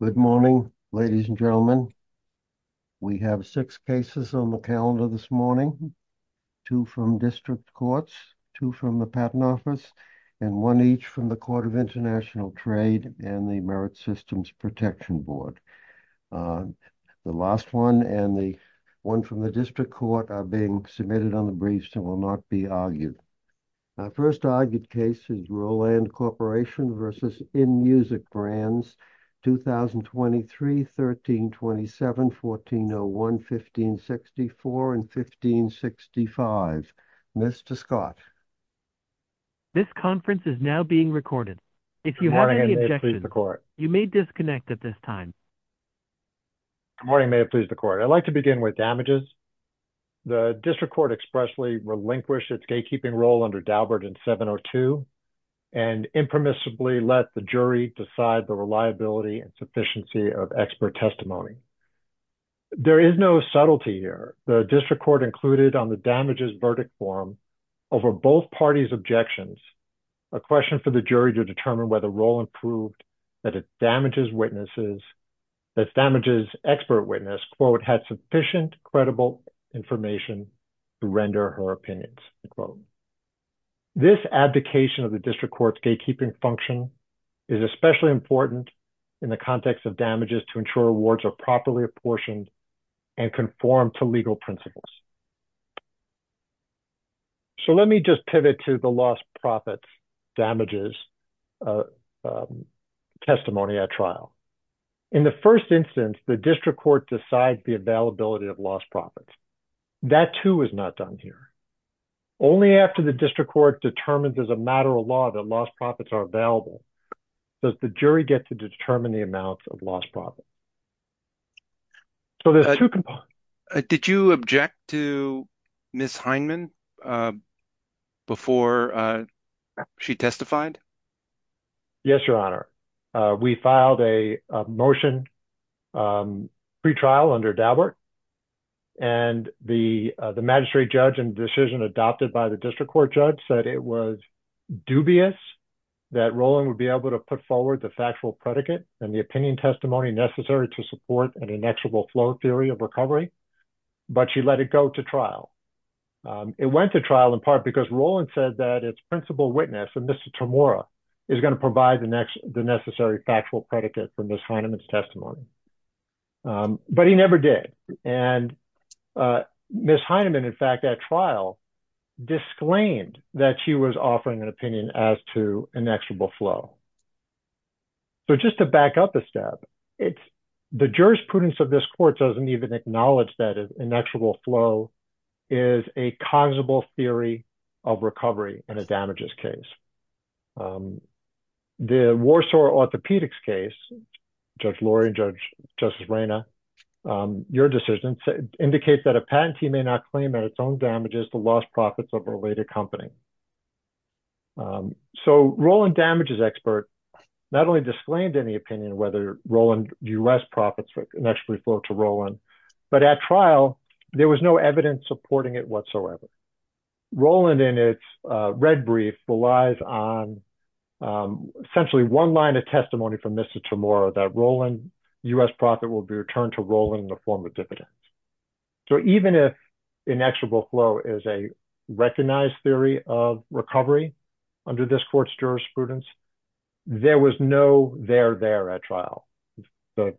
Good morning, ladies and gentlemen. We have six cases on the calendar this morning, two from district courts, two from the Patent Office, and one each from the Court of International Trade and the Merit Systems Protection Board. The last one and the one from the district court are being submitted on the briefs and will not be argued. Our first argued case is Roland Corporation v. inMusic Brands, 2023, 1327, 1401, 1564, and 1565. Mr. Scott. This conference is now being recorded. If you have any objections, you may disconnect at this time. Good morning, may it please the court. I'd like to begin with damages. The district court expressly relinquished its gatekeeping role under Daubert in 702 and impermissibly let the jury decide the reliability and sufficiency of expert testimony. There is no subtlety here. The district court included on the damages verdict form over both parties' objections a question for the jury to determine whether Roland proved that its damages witnesses, its damages expert witness, quote, had sufficient credible information to render her opinions, unquote. This abdication of the district court's gatekeeping function is especially important in the context of damages to ensure awards are properly apportioned and conform to legal principles. So let me just pivot to the lost profits damages testimony at trial. In the first instance, the district court decides the availability of lost profits. That too is not done here. Only after the district court determines as a matter of law that lost profits are available does the jury get to determine the amounts of lost profits. So there's two components. Did you object to Ms. Hindman before she testified? Yes, your honor. We filed a motion pre-trial under Daubert and the magistrate judge and decision adopted by the district court judge said it was dubious that Roland would be able to put forward the factual predicate and the opinion testimony necessary to support an inexorable flow theory of recovery, but she let it go to trial. It went to trial in part because Roland said that its principal witness and Mr. Tremora is going to provide the next, the necessary factual predicate for Ms. Hindman's testimony, but he never did. And Ms. Hindman, in fact, at trial disclaimed that she was offering an opinion as to an a step. It's the jurisprudence of this court doesn't even acknowledge that an inexorable flow is a cognizable theory of recovery in a damages case. The Warsaw orthopedics case, Judge Lori and Judge Justice Reyna, your decision indicates that a patentee may not claim that its own damages the lost profits of a related company. So Roland is expert, not only disclaimed any opinion, whether Roland U.S. profits for an actually flow to Roland, but at trial, there was no evidence supporting it whatsoever. Roland in its red brief relies on essentially one line of testimony from Mr. Tremora that Roland U.S. profit will be returned to Roland in the form of dividends. So even if inexorable flow is a recognized theory of recovery under this court's jurisprudence, there was no there there at trial. The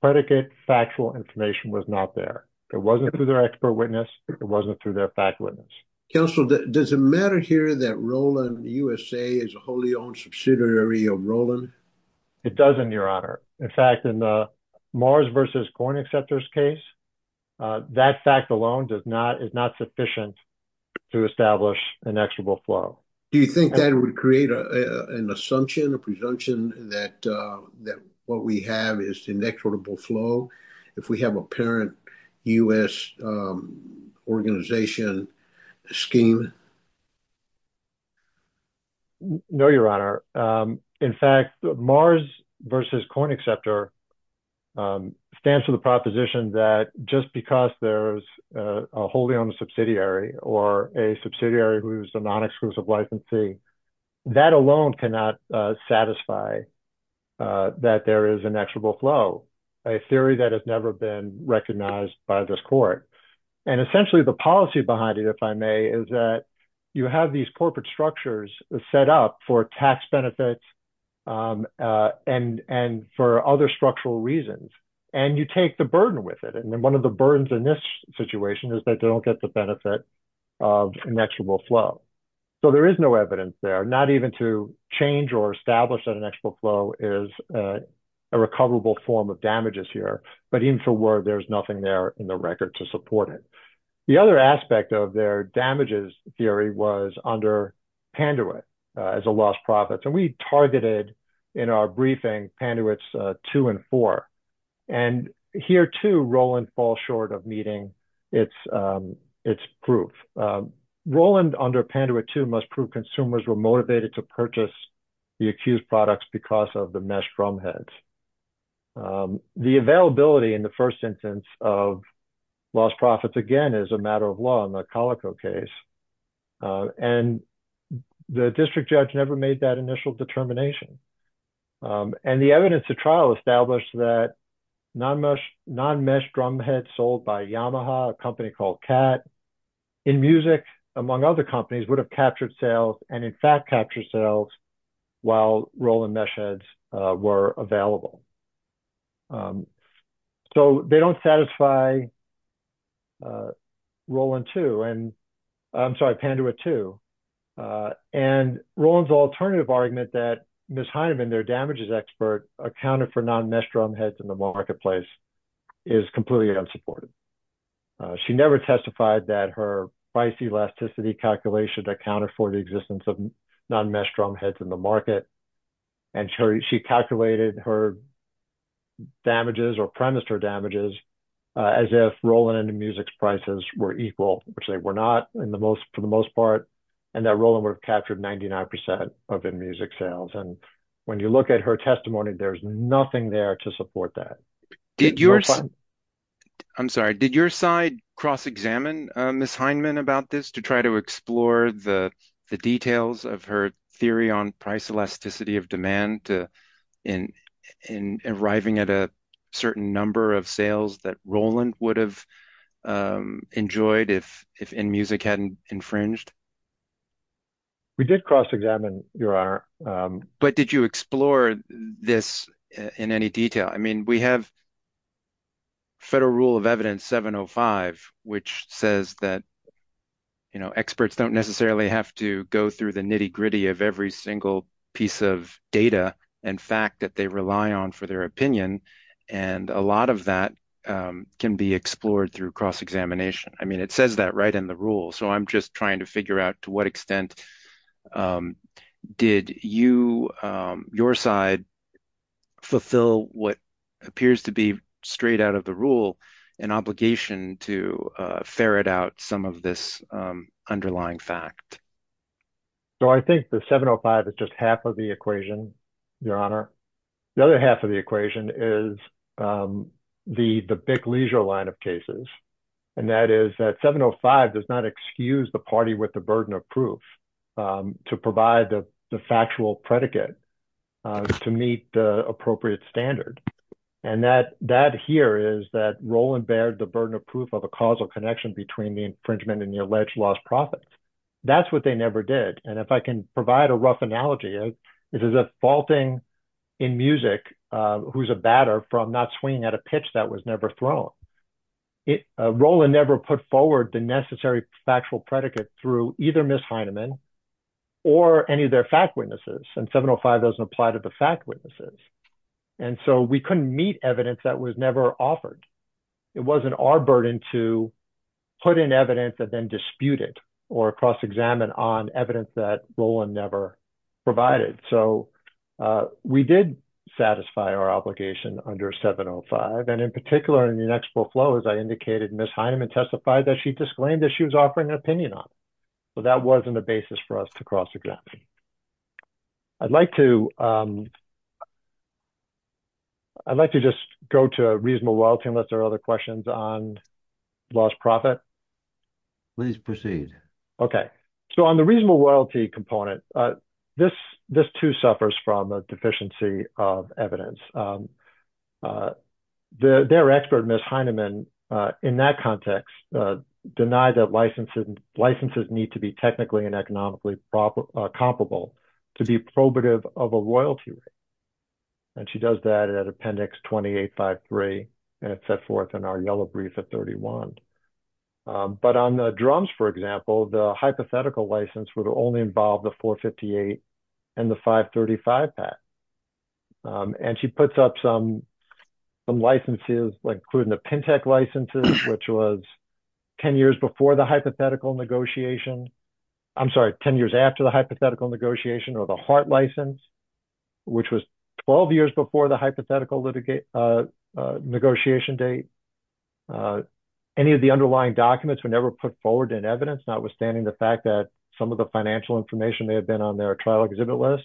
predicate factual information was not there. It wasn't through their expert witness. It wasn't through their fact witness. Counsel, does it matter here that Roland U.S.A. is a wholly owned subsidiary of Roland? It doesn't, your honor. In fact, in the Mars versus coin acceptors case, that fact alone does not is not sufficient to establish an actual flow. Do you think that would create an assumption, a presumption that that what we have is inexorable flow if we have a parent U.S. organization scheme? No, your honor. In fact, Mars versus coin acceptor stands to the proposition that just because there's a wholly owned subsidiary or a subsidiary who's a non-exclusive licensee, that alone cannot satisfy that there is an actual flow, a theory that has never been recognized by this court. And essentially the policy behind it, if I may, is that you have these corporate structures set up for tax benefits and for other structural reasons, and you take the burden with it. And then one of the burdens in this situation is that they don't get the benefit of an actual flow. So there is no evidence there, not even to change or establish that an actual flow is a recoverable form of damages here. But even for word, there's nothing there in the record to support it. The other aspect of their damages theory was under Panduit as a lost profits. And we targeted in our briefing, Panduit's two and four. And here too, Roland falls short of meeting its proof. Roland under Panduit two must prove consumers were motivated to purchase the accused products because of the mesh drumheads. The availability in the first instance of lost profits, again, is a matter of law in the Calico case. And the district judge never made that initial determination. And the evidence to trial established that non-mesh drumheads sold by Yamaha, a company called Cat, in music among other companies would have captured sales and in fact capture sales while Roland meshheads were available. So they don't satisfy Panduit two. And Roland's alternative argument that Ms. Heineman, their damages expert, accounted for non-mesh drumheads in the marketplace is completely unsupported. She never testified that her price elasticity calculation accounted for the existence of non-mesh drumheads in the market. And she calculated her damages or premised her damages as if Roland and InMusic's prices were equal, which they were not for the most part. And that Roland would have captured 99% of InMusic sales. And when you look at her testimony, there's nothing there to support that. I'm sorry, did your side cross-examine Ms. Heineman about this to try to explore the details of her theory on price elasticity of demand in arriving at a certain number of sales that Roland would have enjoyed if InMusic hadn't infringed? We did cross-examine, Your Honor. But did you explore this in any detail? I mean, we have Federal Rule of Evidence 705, which says that experts don't necessarily have to go through the nitty-gritty of every single piece of data and fact that they rely on for their opinion. And a lot of that can be explored through cross-examination. I mean, it says that right in the rule. So I'm just trying to figure out to what extent did your side fulfill what appears to be straight out of the rule, an to ferret out some of this underlying fact? So I think the 705 is just half of the equation, Your Honor. The other half of the equation is the big leisure line of cases. And that is that 705 does not excuse the party with the burden of proof to provide the factual predicate to meet the appropriate standard. And that here is that Roland bared the burden of proof of a causal connection between the infringement and the alleged lost profit. That's what they never did. And if I can provide a rough analogy, this is a faulting InMusic who's a batter from not swinging at a pitch that was never thrown. Roland never put forward the necessary factual predicate through either Ms. Heinemann or any of their fact witnesses. And 705 doesn't apply to the fact witnesses. And so we couldn't meet evidence that was never offered. It wasn't our burden to put in evidence and then dispute it or cross-examine on evidence that Roland never provided. So we did satisfy our obligation under 705. And in particular, in the next full flow, as I indicated, Ms. Heinemann testified that she disclaimed that she was offering an opinion on that wasn't a basis for us to cross-examine. I'd like to just go to a reasonable loyalty unless there are other questions on lost profit. Please proceed. Okay. So on the reasonable loyalty component, this too suffers from a deficiency of evidence. Their expert, Ms. Heinemann, in that context, denied that licenses need to be technically and economically comparable to be probative of a royalty rate. And she does that at Appendix 2853 and it's set forth in our yellow brief at 31. But on the drums, for example, the hypothetical license would only involve the 458 and the 535 PAC. And she puts up some licenses, including the PINTEC licenses, which was 10 years before the hypothetical negotiation. I'm sorry, 10 years after the hypothetical negotiation or the HART license, which was 12 years before the hypothetical negotiation date. Any of the underlying documents were never put forward in evidence, notwithstanding the fact that some of the financial information may have been on their trial exhibit list.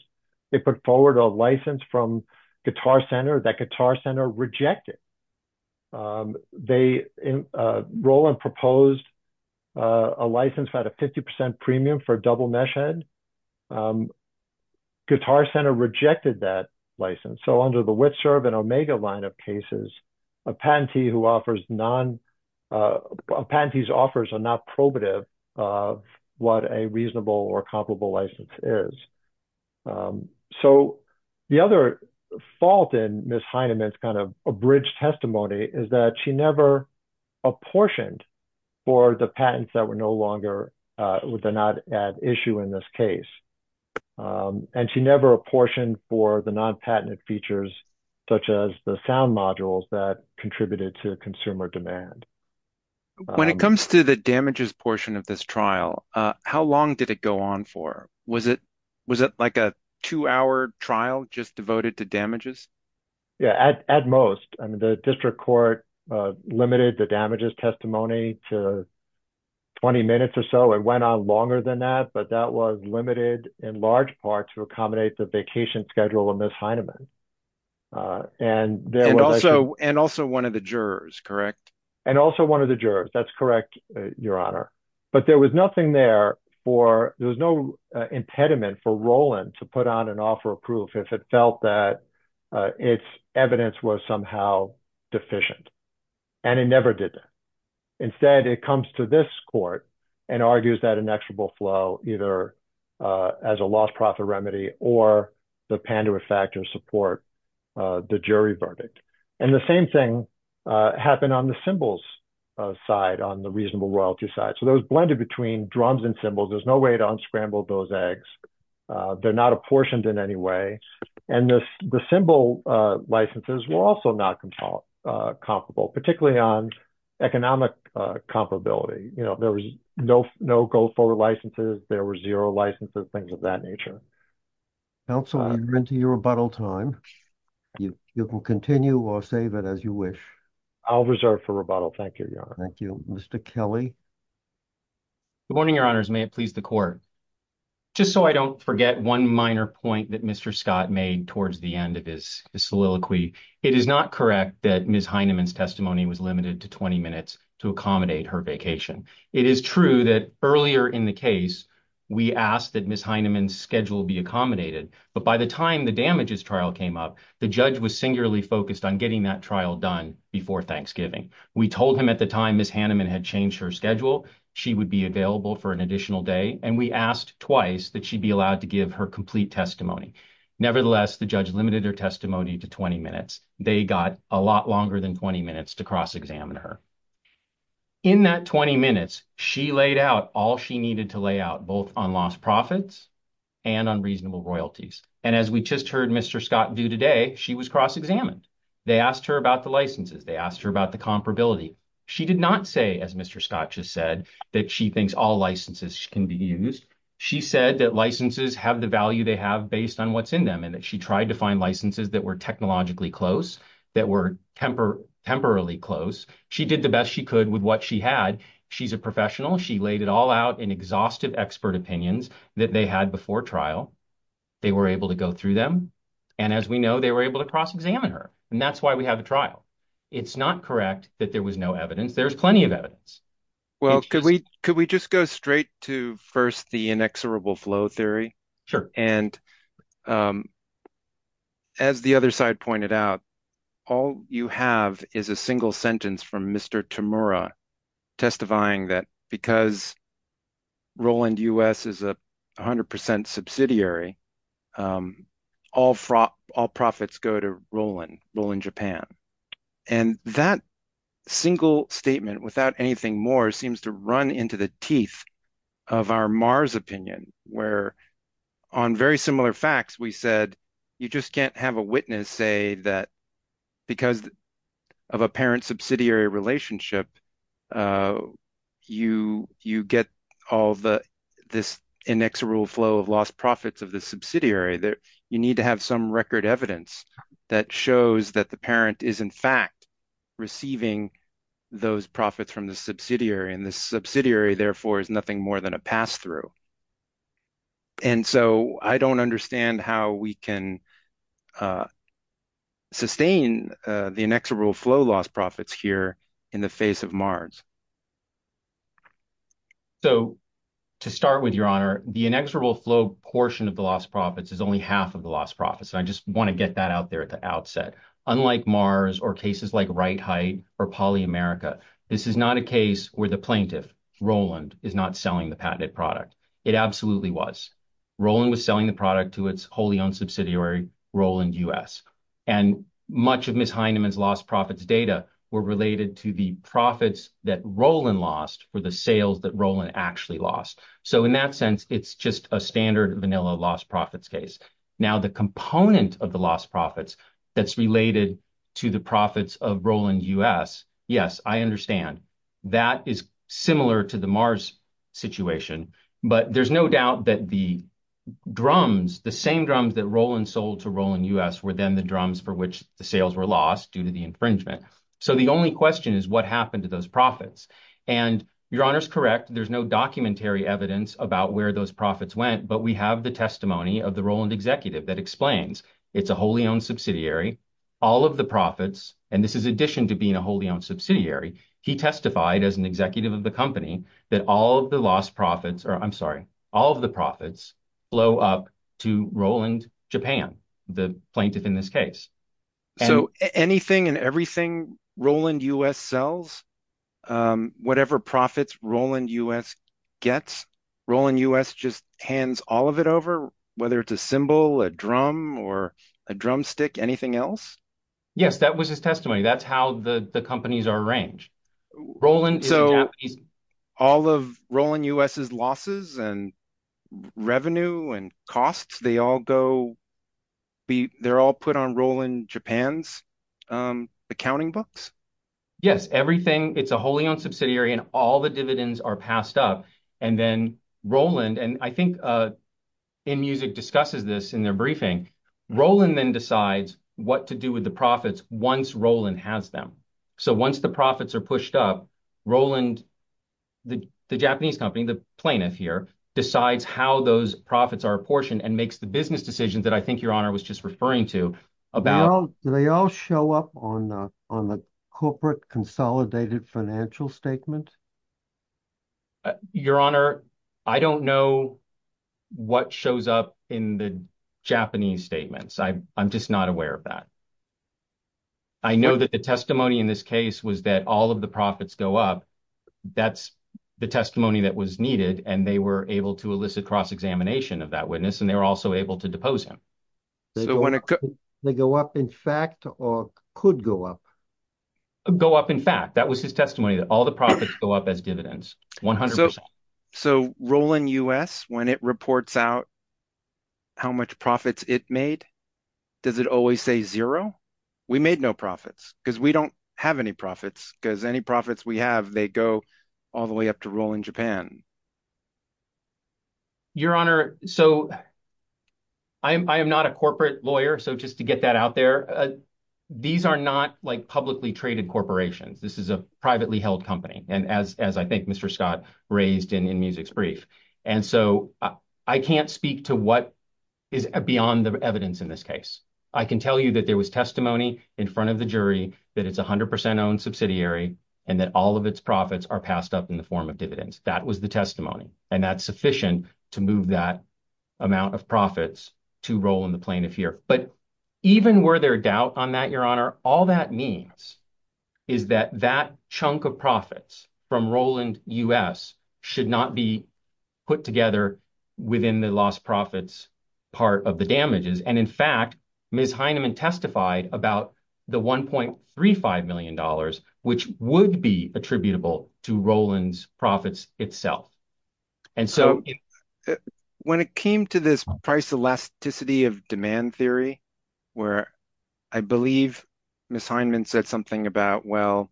They put forward a license from Guitar Center that Guitar Center rejected. They enrolled and proposed a license about a 50% premium for a double-mesh head. Guitar Center rejected that license. So under the Witserv and Omega lineup cases, a patentee's offers are not probative of what a reasonable or comparable license is. So the other fault in Ms. Heinemann's kind of abridged testimony is that she never apportioned for the patents that were no longer at issue in this case. And she never apportioned for the non-patented features, such as the sound modules that contributed to consumer demand. When it comes to the damages portion of this trial, how long did it go on for? Was it like a two-hour trial just devoted to damages? Yeah, at most. I mean, the district court limited the damages testimony to 20 minutes or so. It went on longer than that, but that was limited in large part to accommodate the vacation schedule of Ms. Heinemann. And also one of the jurors, correct? And also one of the jurors, that's correct, Your Honor. But there was nothing there for, there was no impediment for Roland to put on an offer of proof if it felt that its evidence was somehow deficient. And it never did that. Instead, it comes to this court and argues that inexorable flow either as a lost profit remedy or the Pandora factor support the jury verdict. And the same thing happened on the symbols side, on the reasonable royalty side. So that was blended between drums and symbols. There's no way to unscramble those eggs. They're not apportioned in any way. And the symbol licenses were also not comparable, particularly on economic comparability. You know, there was no go forward licenses. There were zero licenses, things of that nature. Counsel, we've run to your rebuttal time. You can continue or save it as you wish. I'll reserve for rebuttal. Thank you, Your Honor. Thank you. Mr. Kelly. Good morning, Your Honors. May it please the court. Just so I don't forget one minor point Mr. Scott made towards the end of his soliloquy. It is not correct that Ms. Heineman's testimony was limited to 20 minutes to accommodate her vacation. It is true that earlier in the case, we asked that Ms. Heineman's schedule be accommodated. But by the time the damages trial came up, the judge was singularly focused on getting that trial done before Thanksgiving. We told him at the time Ms. Heineman had changed her schedule, she would be available for an and we asked twice that she be allowed to give her complete testimony. Nevertheless, the judge limited her testimony to 20 minutes. They got a lot longer than 20 minutes to cross-examine her. In that 20 minutes, she laid out all she needed to lay out both on lost profits and on reasonable royalties. And as we just heard Mr. Scott do today, she was cross-examined. They asked her about the licenses. They asked her about the comparability. She did not say, as Mr. Scott just said, that she thinks all licenses can be used. She said that licenses have the value they have based on what's in them and that she tried to find licenses that were technologically close, that were temporarily close. She did the best she could with what she had. She's a professional. She laid it all out in exhaustive expert opinions that they had before trial. They were able to go through them. And as we know, they were able to cross-examine her. And that's why we have a trial. It's not correct that there was no evidence. There's plenty of evidence. Well, could we just go straight to first the inexorable flow theory? Sure. And as the other side pointed out, all you have is a single sentence from Mr. Tamura testifying that because Roland US is 100% subsidiary, all profits go to Roland, Roland Japan. And that single statement without anything more seems to run into the teeth of our Mars opinion, where on very similar facts, we said, you just can't have a witness say that because of a parent subsidiary relationship, you get all this inexorable flow of lost profits of the subsidiary that you need to have some record evidence that shows that the parent is in fact receiving those profits from the subsidiary. And the subsidiary therefore is nothing more than a pass-through. And so I don't understand how we can sustain the inexorable flow loss profits here in the face of Mars. So to start with your honor, the inexorable flow portion of the lost profits is only half of the lost profits. And I just want to get that out there at the outset, unlike Mars or cases like right height or poly America. This is not a case where the plaintiff Roland is not selling the patented product. It absolutely was. Roland was selling the product to its wholly owned subsidiary Roland US and much of Ms. Heineman's lost profits data were related to the profits that Roland lost for the sales that Roland actually lost. So in that sense, it's just a standard vanilla lost profits case. Now the component of the lost profits that's related to the profits of Roland US. Yes, I understand that is similar to the Mars situation, but there's no doubt that the drums, the same drums that Roland sold to Roland US were then the drums for which the sales were lost due to the infringement. So the only question is what happened to those profits and your honor's correct. There's no documentary evidence about where those profits went, but we have the testimony of the Roland executive that explains it's a wholly owned subsidiary, all of the profits. And this is addition to being a wholly owned subsidiary. He testified as an executive of the company that all of the lost profits, or I'm sorry, all of the profits blow up to Roland Japan, the plaintiff in this case. So anything and everything Roland US sells, whatever profits Roland US gets, Roland US just hands all of it over, whether it's a symbol, a drum or a drumstick, anything else? Yes, that was his testimony. That's how the companies are arranged. So all of Roland US's losses and revenue and costs, they all go, they're all put on Roland Japan's accounting books? Yes, everything. It's a wholly owned subsidiary and all the dividends are passed up. And then Roland, and I think InMusic discusses this in their briefing, Roland then decides what to do with the profits once Roland has them. So once the profits are pushed up, Roland, the Japanese company, the plaintiff here decides how those profits are apportioned and makes the business decisions that I think your honor was just referring to. Do they all show up on the corporate consolidated financial statement? Your honor, I don't know what shows up in the Japanese statements. I'm just not aware of that. I know that the testimony in this case was that all of the profits go up. That's the testimony that was needed and they were able to elicit cross-examination of that witness and they were also able to depose him. They go up in fact or could go up? Go up in fact, that was his testimony that all the profits go up as dividends, 100%. So Roland US, when it reports out how much profits it made, does it always say zero? We made no profits because we don't have any profits because any profits we have, they go all the way up to Roland Japan. Your honor, so I am not a corporate lawyer. So just to get that out there, these are not like publicly traded corporations. This is a privately held company and as I think Mr. Scott raised in InMusic's brief. And so I can't speak to what is beyond the evidence in this case. I can tell you that there was testimony in front of the jury that it's 100% owned subsidiary and that all of its profits are passed up in the form of dividends. That was the testimony and that's sufficient to move that amount of profits to roll in the plane of fear. But even were there a doubt on that, your honor, all that means is that that chunk of profits from Roland US should not be put together within the lost profits part of the damages. And in fact, Ms. Heineman testified about the $1.35 million, which would be attributable to Roland's profits itself. And so when it came to this price elasticity of demand theory, where I believe Ms. Heineman said something about, well,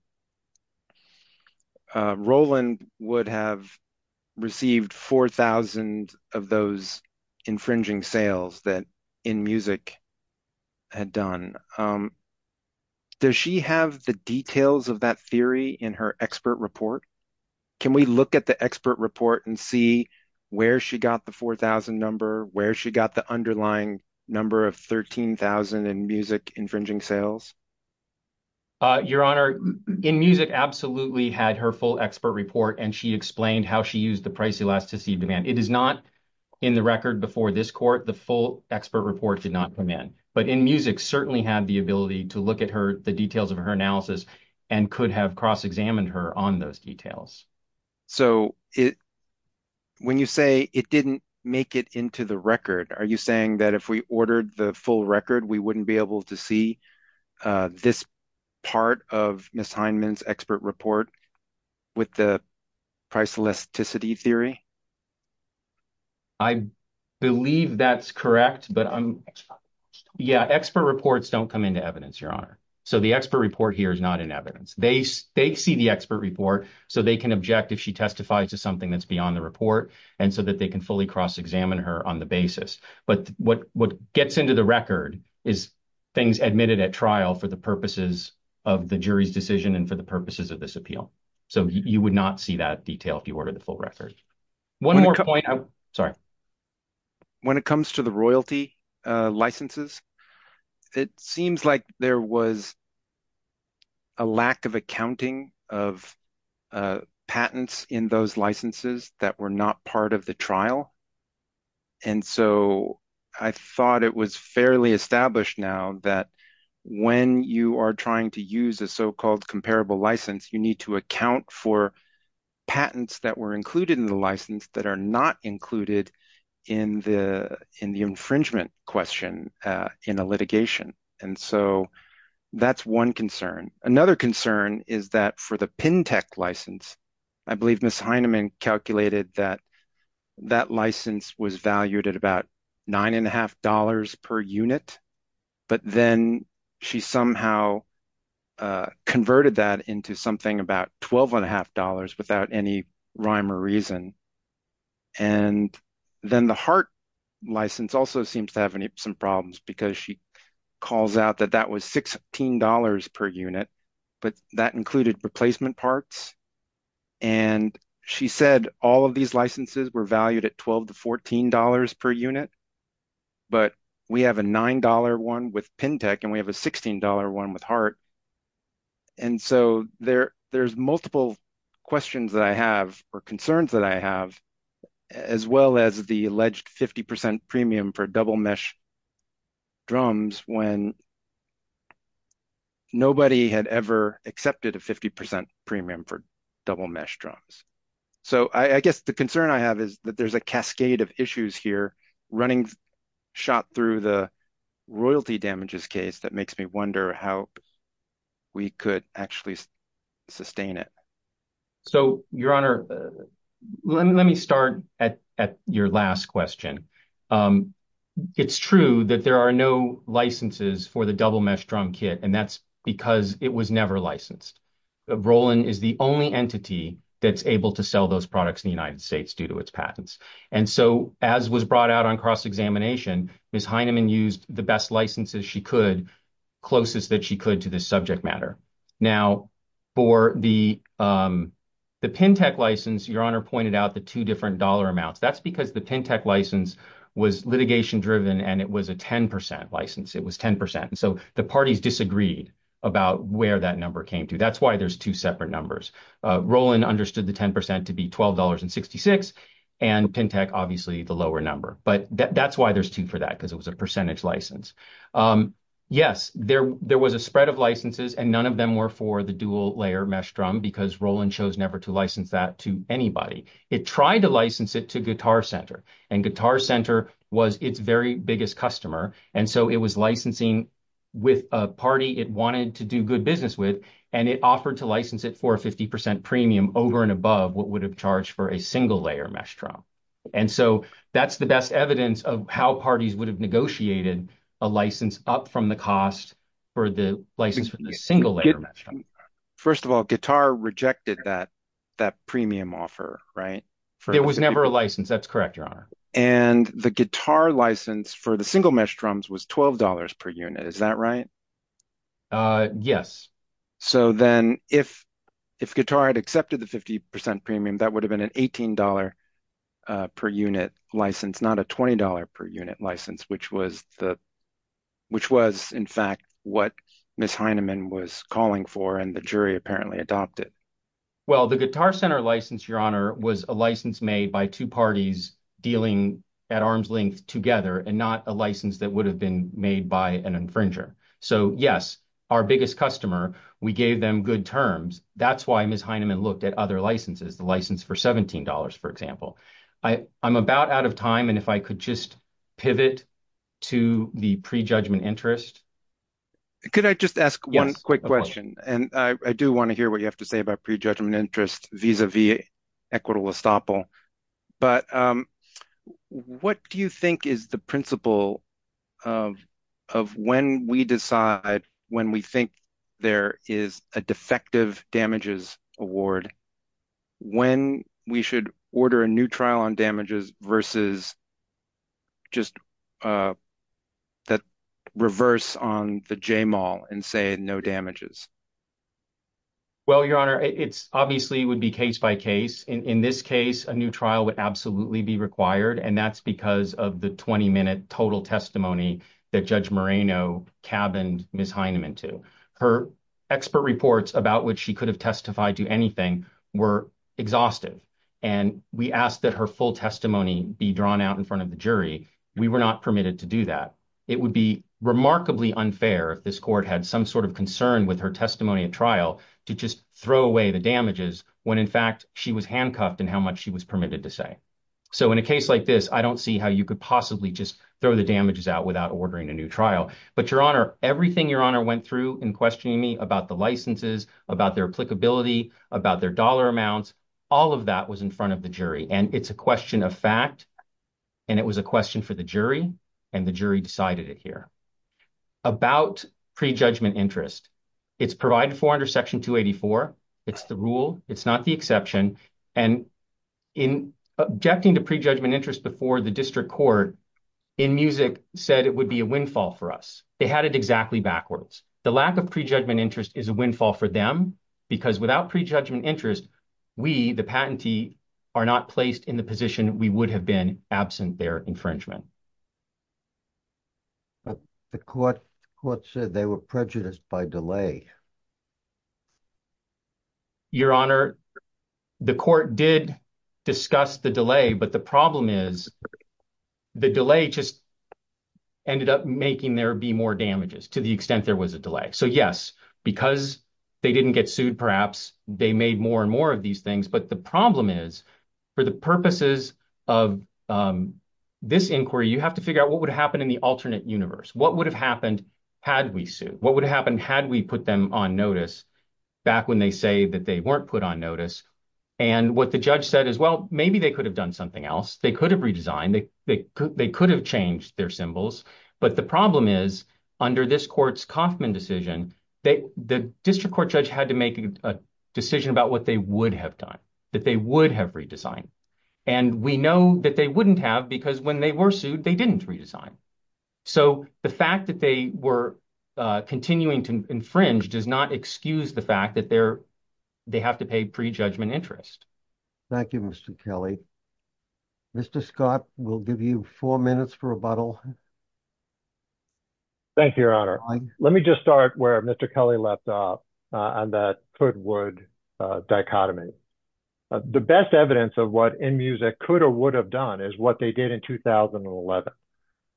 Roland would have received 4,000 of those infringing sales that InMusic had done. Does she have the details of that theory in her expert report? Can we look at the expert report and see where she got the 4,000 number, where she got the underlying number of 13,000 InMusic infringing sales? Your honor, InMusic absolutely had her full expert report and she explained how she used the price elasticity of demand. It is not in the record before this court, the full expert report did not come in. But InMusic certainly had the ability to look at the details of her analysis and could have cross-examined her on those details. So when you say it didn't make it into the record, are you saying that if we ordered the full record, we wouldn't be able to see this part of Ms. Heineman's expert report with the price elasticity theory? I believe that's correct, but yeah, expert reports don't come into evidence, your honor. So the expert report here is not in evidence. They see the expert report so they can object if she testifies to something that's beyond the report and so that they can fully cross-examine her on the basis. But what gets into the record is things admitted at trial for the purposes of the jury's decision and for the purposes of this appeal. So you would not see that detail if you ordered the full record. One more point, sorry. When it comes to the royalty licenses, it seems like there was a lack of accounting of patents in those licenses that were not part of the trial. And so I thought it was fairly established now that when you are trying to use a so-called comparable license, you need to account for patents that were included in the license that are not included in the infringement question in a litigation. And so that's one concern. Another concern is that for the Pintech license, I believe Ms. Heinemann calculated that that license was valued at about $9.50 per unit, but then she somehow converted that into something about $12.50 without any rhyme or reason. And then the Hart license also seems to have some problems because she calls out that that was $16 per unit, but that included replacement parts. And she said all of these licenses were valued at $12 to $14 per unit, but we have a $9 one with Pintech and we have a $16 one with Hart. And so there's multiple questions that I have or concerns that I have, as well as the alleged 50% premium for double mesh drums when nobody had ever accepted a 50% premium for double mesh drums. So I guess the concern I have is that there's a cascade of issues here running shot through the royalty damages case that makes me how we could actually sustain it. So Your Honor, let me start at your last question. It's true that there are no licenses for the double mesh drum kit and that's because it was never licensed. Roland is the only entity that's able to sell those products in the United States due to its patents. And so as was brought out on cross-examination, Ms. Heinemann used the best licenses she could, closest that she could to this subject matter. Now for the Pintech license, Your Honor pointed out the two different dollar amounts. That's because the Pintech license was litigation driven and it was a 10% license. It was 10%. And so the parties disagreed about where that number came to. That's why there's two separate numbers. Roland understood the 10% to be $12 and 66 and Pintech, obviously the lower number, but that's why there's two for that, because it was a percentage license. Yes, there was a spread of licenses and none of them were for the dual layer mesh drum because Roland chose never to license that to anybody. It tried to license it to Guitar Center and Guitar Center was its very biggest customer. And so it was licensing with a party it wanted to do good business with and it offered to license it for a 50% premium over and above what would have charged for a single layer mesh drum. And so that's the best evidence of how parties would have negotiated a license up from the cost for the license for the single layer. First of all, Guitar rejected that premium offer, right? There was never a license. That's correct, Your Honor. And the Guitar license for the single mesh drums was $12 per unit. Is that right? Yes. So then if Guitar had accepted the 50% premium, that would have been an $18 per unit license, not a $20 per unit license, which was in fact what Ms. Heinemann was calling for and the jury apparently adopted. Well, the Guitar Center license, Your Honor, was a license made by two parties dealing at arm's length together and not a license that would have been made by an infringer. So yes, our biggest customer, we gave them good terms. That's why Ms. Heinemann looked at other licenses, the license for $17, for example. I'm about out of time and if I could just pivot to the pre-judgment interest. Could I just ask one quick question? And I do want to hear what you have to say about pre-judgment interest vis-a-vis equitable estoppel. But what do you think is the principle of when we decide, when we think there is a defective damages award, when we should order a new trial on damages versus just that reverse on the J-Mall and say no damages? Well, Your Honor, it obviously would be case by case. In this case, a new trial would absolutely be required. And that's because of the 20-minute total testimony that Judge Moreno cabined Ms. Heinemann to. Her expert reports about what she could have testified to anything were exhaustive. And we asked that her full testimony be drawn out in front of the jury. We were not permitted to do that. It would be remarkably unfair if this court had some sort of concern with her testimony at trial to just throw away the damages when in fact she was handcuffed and how much she was permitted to say. So in a case like this, I don't see how you could possibly just throw the damages out without ordering a new trial. But Your Honor, everything Your Honor went through in questioning me about the licenses, about their applicability, about their dollar amounts, all of that was in front of the jury. And it's a question of fact. And it was a question for the jury. And the jury decided it here. About pre-judgment interest, it's provided for under Section 284. It's the rule. It's not the exception. And in objecting to pre-judgment interest before the district court in Muzik said it would be a windfall for us. They had it exactly backwards. The lack of pre-judgment interest is a windfall for them because without pre-judgment interest, we, the patentee, are not placed in the position we would have been absent their infringement. The court said they were prejudiced by delay. Your Honor, the court did discuss the delay. But the problem is, the delay just ended up making there be more damages to the extent there was a delay. So yes, because they didn't get sued, perhaps they made more and more of these things. But the problem is for the purposes of this inquiry, you have to figure out what would happen in the alternate universe. What would have happened had we sued? What would happen had we put them in the notice back when they say that they weren't put on notice? And what the judge said is, well, maybe they could have done something else. They could have redesigned. They could have changed their symbols. But the problem is, under this court's Kauffman decision, the district court judge had to make a decision about what they would have done, that they would have redesigned. And we know that they wouldn't have because when they were sued, they didn't redesign. So the fact that they were continuing to infringe does not excuse the fact that they have to pay prejudgment interest. Thank you, Mr. Kelly. Mr. Scott, we'll give you four minutes for rebuttal. Thank you, Your Honor. Let me just start where Mr. Kelly left off on that could-would dichotomy. The best evidence of what InMusic could or would have done is what they did in 2011.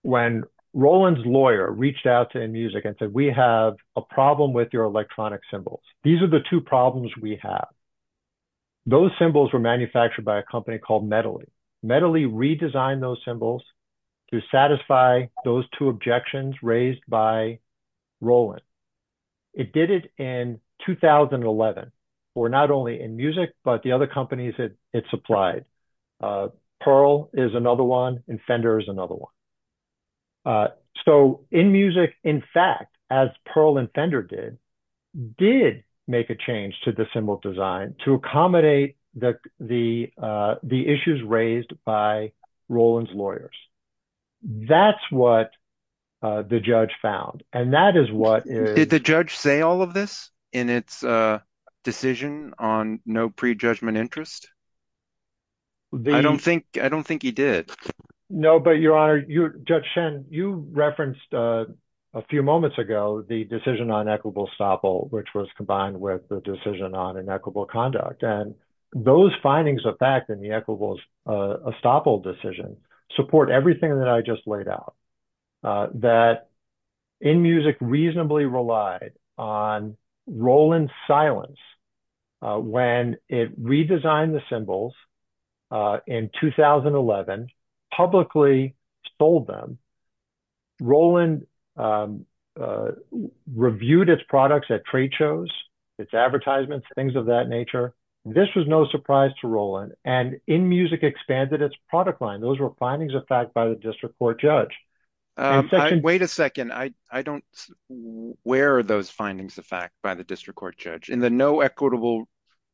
When Roland's lawyer reached out to InMusic and said, we have a problem with your electronic symbols. These are the two problems we have. Those symbols were manufactured by a company called Medeli. Medeli redesigned those symbols to satisfy those two objections raised by Roland. It did it in 2011 for not only InMusic, but the other companies that it supplied. Pearl is another one, and Fender is another one. So InMusic, in fact, as Pearl and Fender did, did make a change to the symbol design to accommodate the issues raised by Roland's lawyers. That's what the judge found. And that is what- Did the judge say all of this in its decision on no prejudgment interest? I don't think-I don't think he did. No, but Your Honor, Judge Shen, you referenced a few moments ago the decision on equitable estoppel, which was combined with the decision on inequitable conduct. And those findings of fact in the equitable estoppel decision support everything that I just laid out, that InMusic reasonably relied on Roland's silence when it redesigned the symbols in 2011, publicly sold them. Roland reviewed its products at trade shows, its advertisements, things of that nature. This was no surprise to Roland. And InMusic expanded its product line. Those were findings of fact by the district court judge. Wait a second. I don't-where are those findings of fact by the district court judge? In the no equitable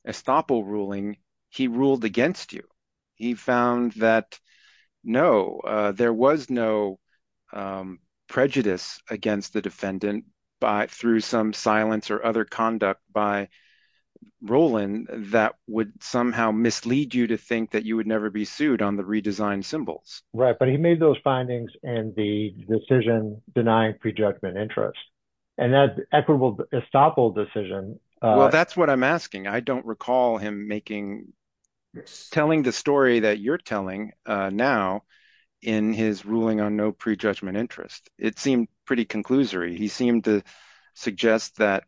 estoppel ruling, he ruled against you. He found that, no, there was no prejudice against the defendant through some silence or other conduct by Roland that would somehow mislead you to think that you would never be sued on the redesigned symbols. Right. But he made those findings and the decision denying prejudgment interest. And that equitable estoppel decision- Well, that's what I'm asking. I don't recall him making-telling the story that you're telling now in his ruling on no prejudgment interest. It seemed pretty conclusory. He seemed to suggest that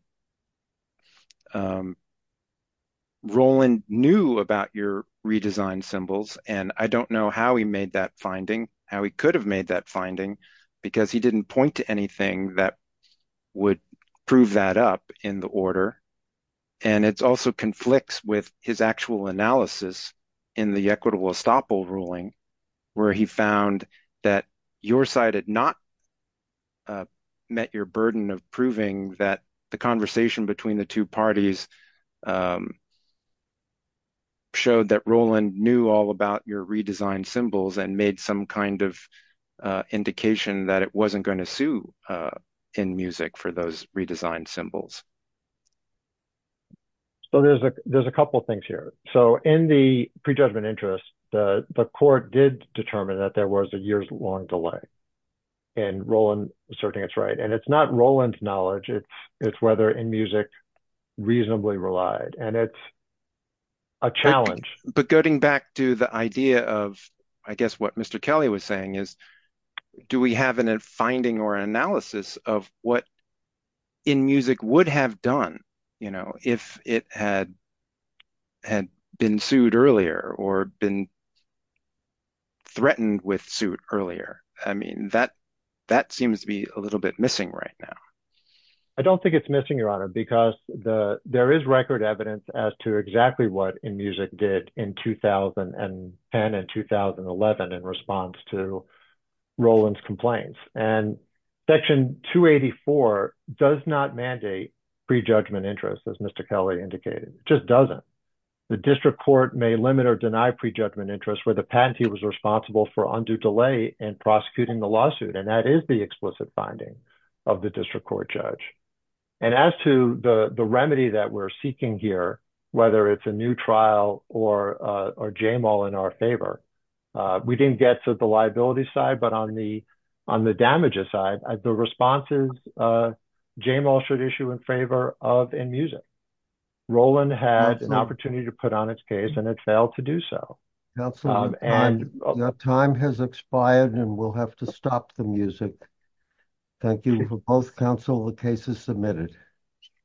Roland knew about your redesigned symbols. And I don't know how he made that finding, how he could have made that finding, because he didn't point to anything that would prove that up in the order. And it also conflicts with his actual analysis in the equitable estoppel ruling, where he found that your side had not met your burden of proving that the conversation between the two parties showed that Roland knew all about your redesigned symbols and made some kind of indication that it wasn't going to sue in music for those redesigned symbols. So there's a couple of things here. So in the prejudgment interest, the court did determine that there was a years-long delay in Roland asserting it's right. And it's not Roland's knowledge. It's whether in music reasonably relied. And it's a challenge. But getting back to the idea of, I guess, what Mr. Kelly was saying is, do we have a finding or analysis of what in music would have done if it had been sued earlier or been threatened with suit earlier? I mean, that seems to be a little bit missing right now. I don't think it's missing, Your Honor, because there is record evidence as to exactly what in music did in 2010 and 2011 in response to Roland's complaints. And Section 284 does not mandate prejudgment interest, as Mr. Kelly indicated. It just doesn't. The district court may limit or deny prejudgment interest where the patentee was responsible for undue delay in prosecuting the lawsuit. And that is the explicit finding of the district court judge. And as to the remedy that we're seeking here, whether it's a new trial or Jamal in our favor, we didn't get to the liability side. But on the damages side, the responses Jamal should issue in favor of in music. Roland had an opportunity to put on its case, and it failed to do so. Your time has expired, and we'll have to stop the music. Thank you for both counsel. The case is submitted.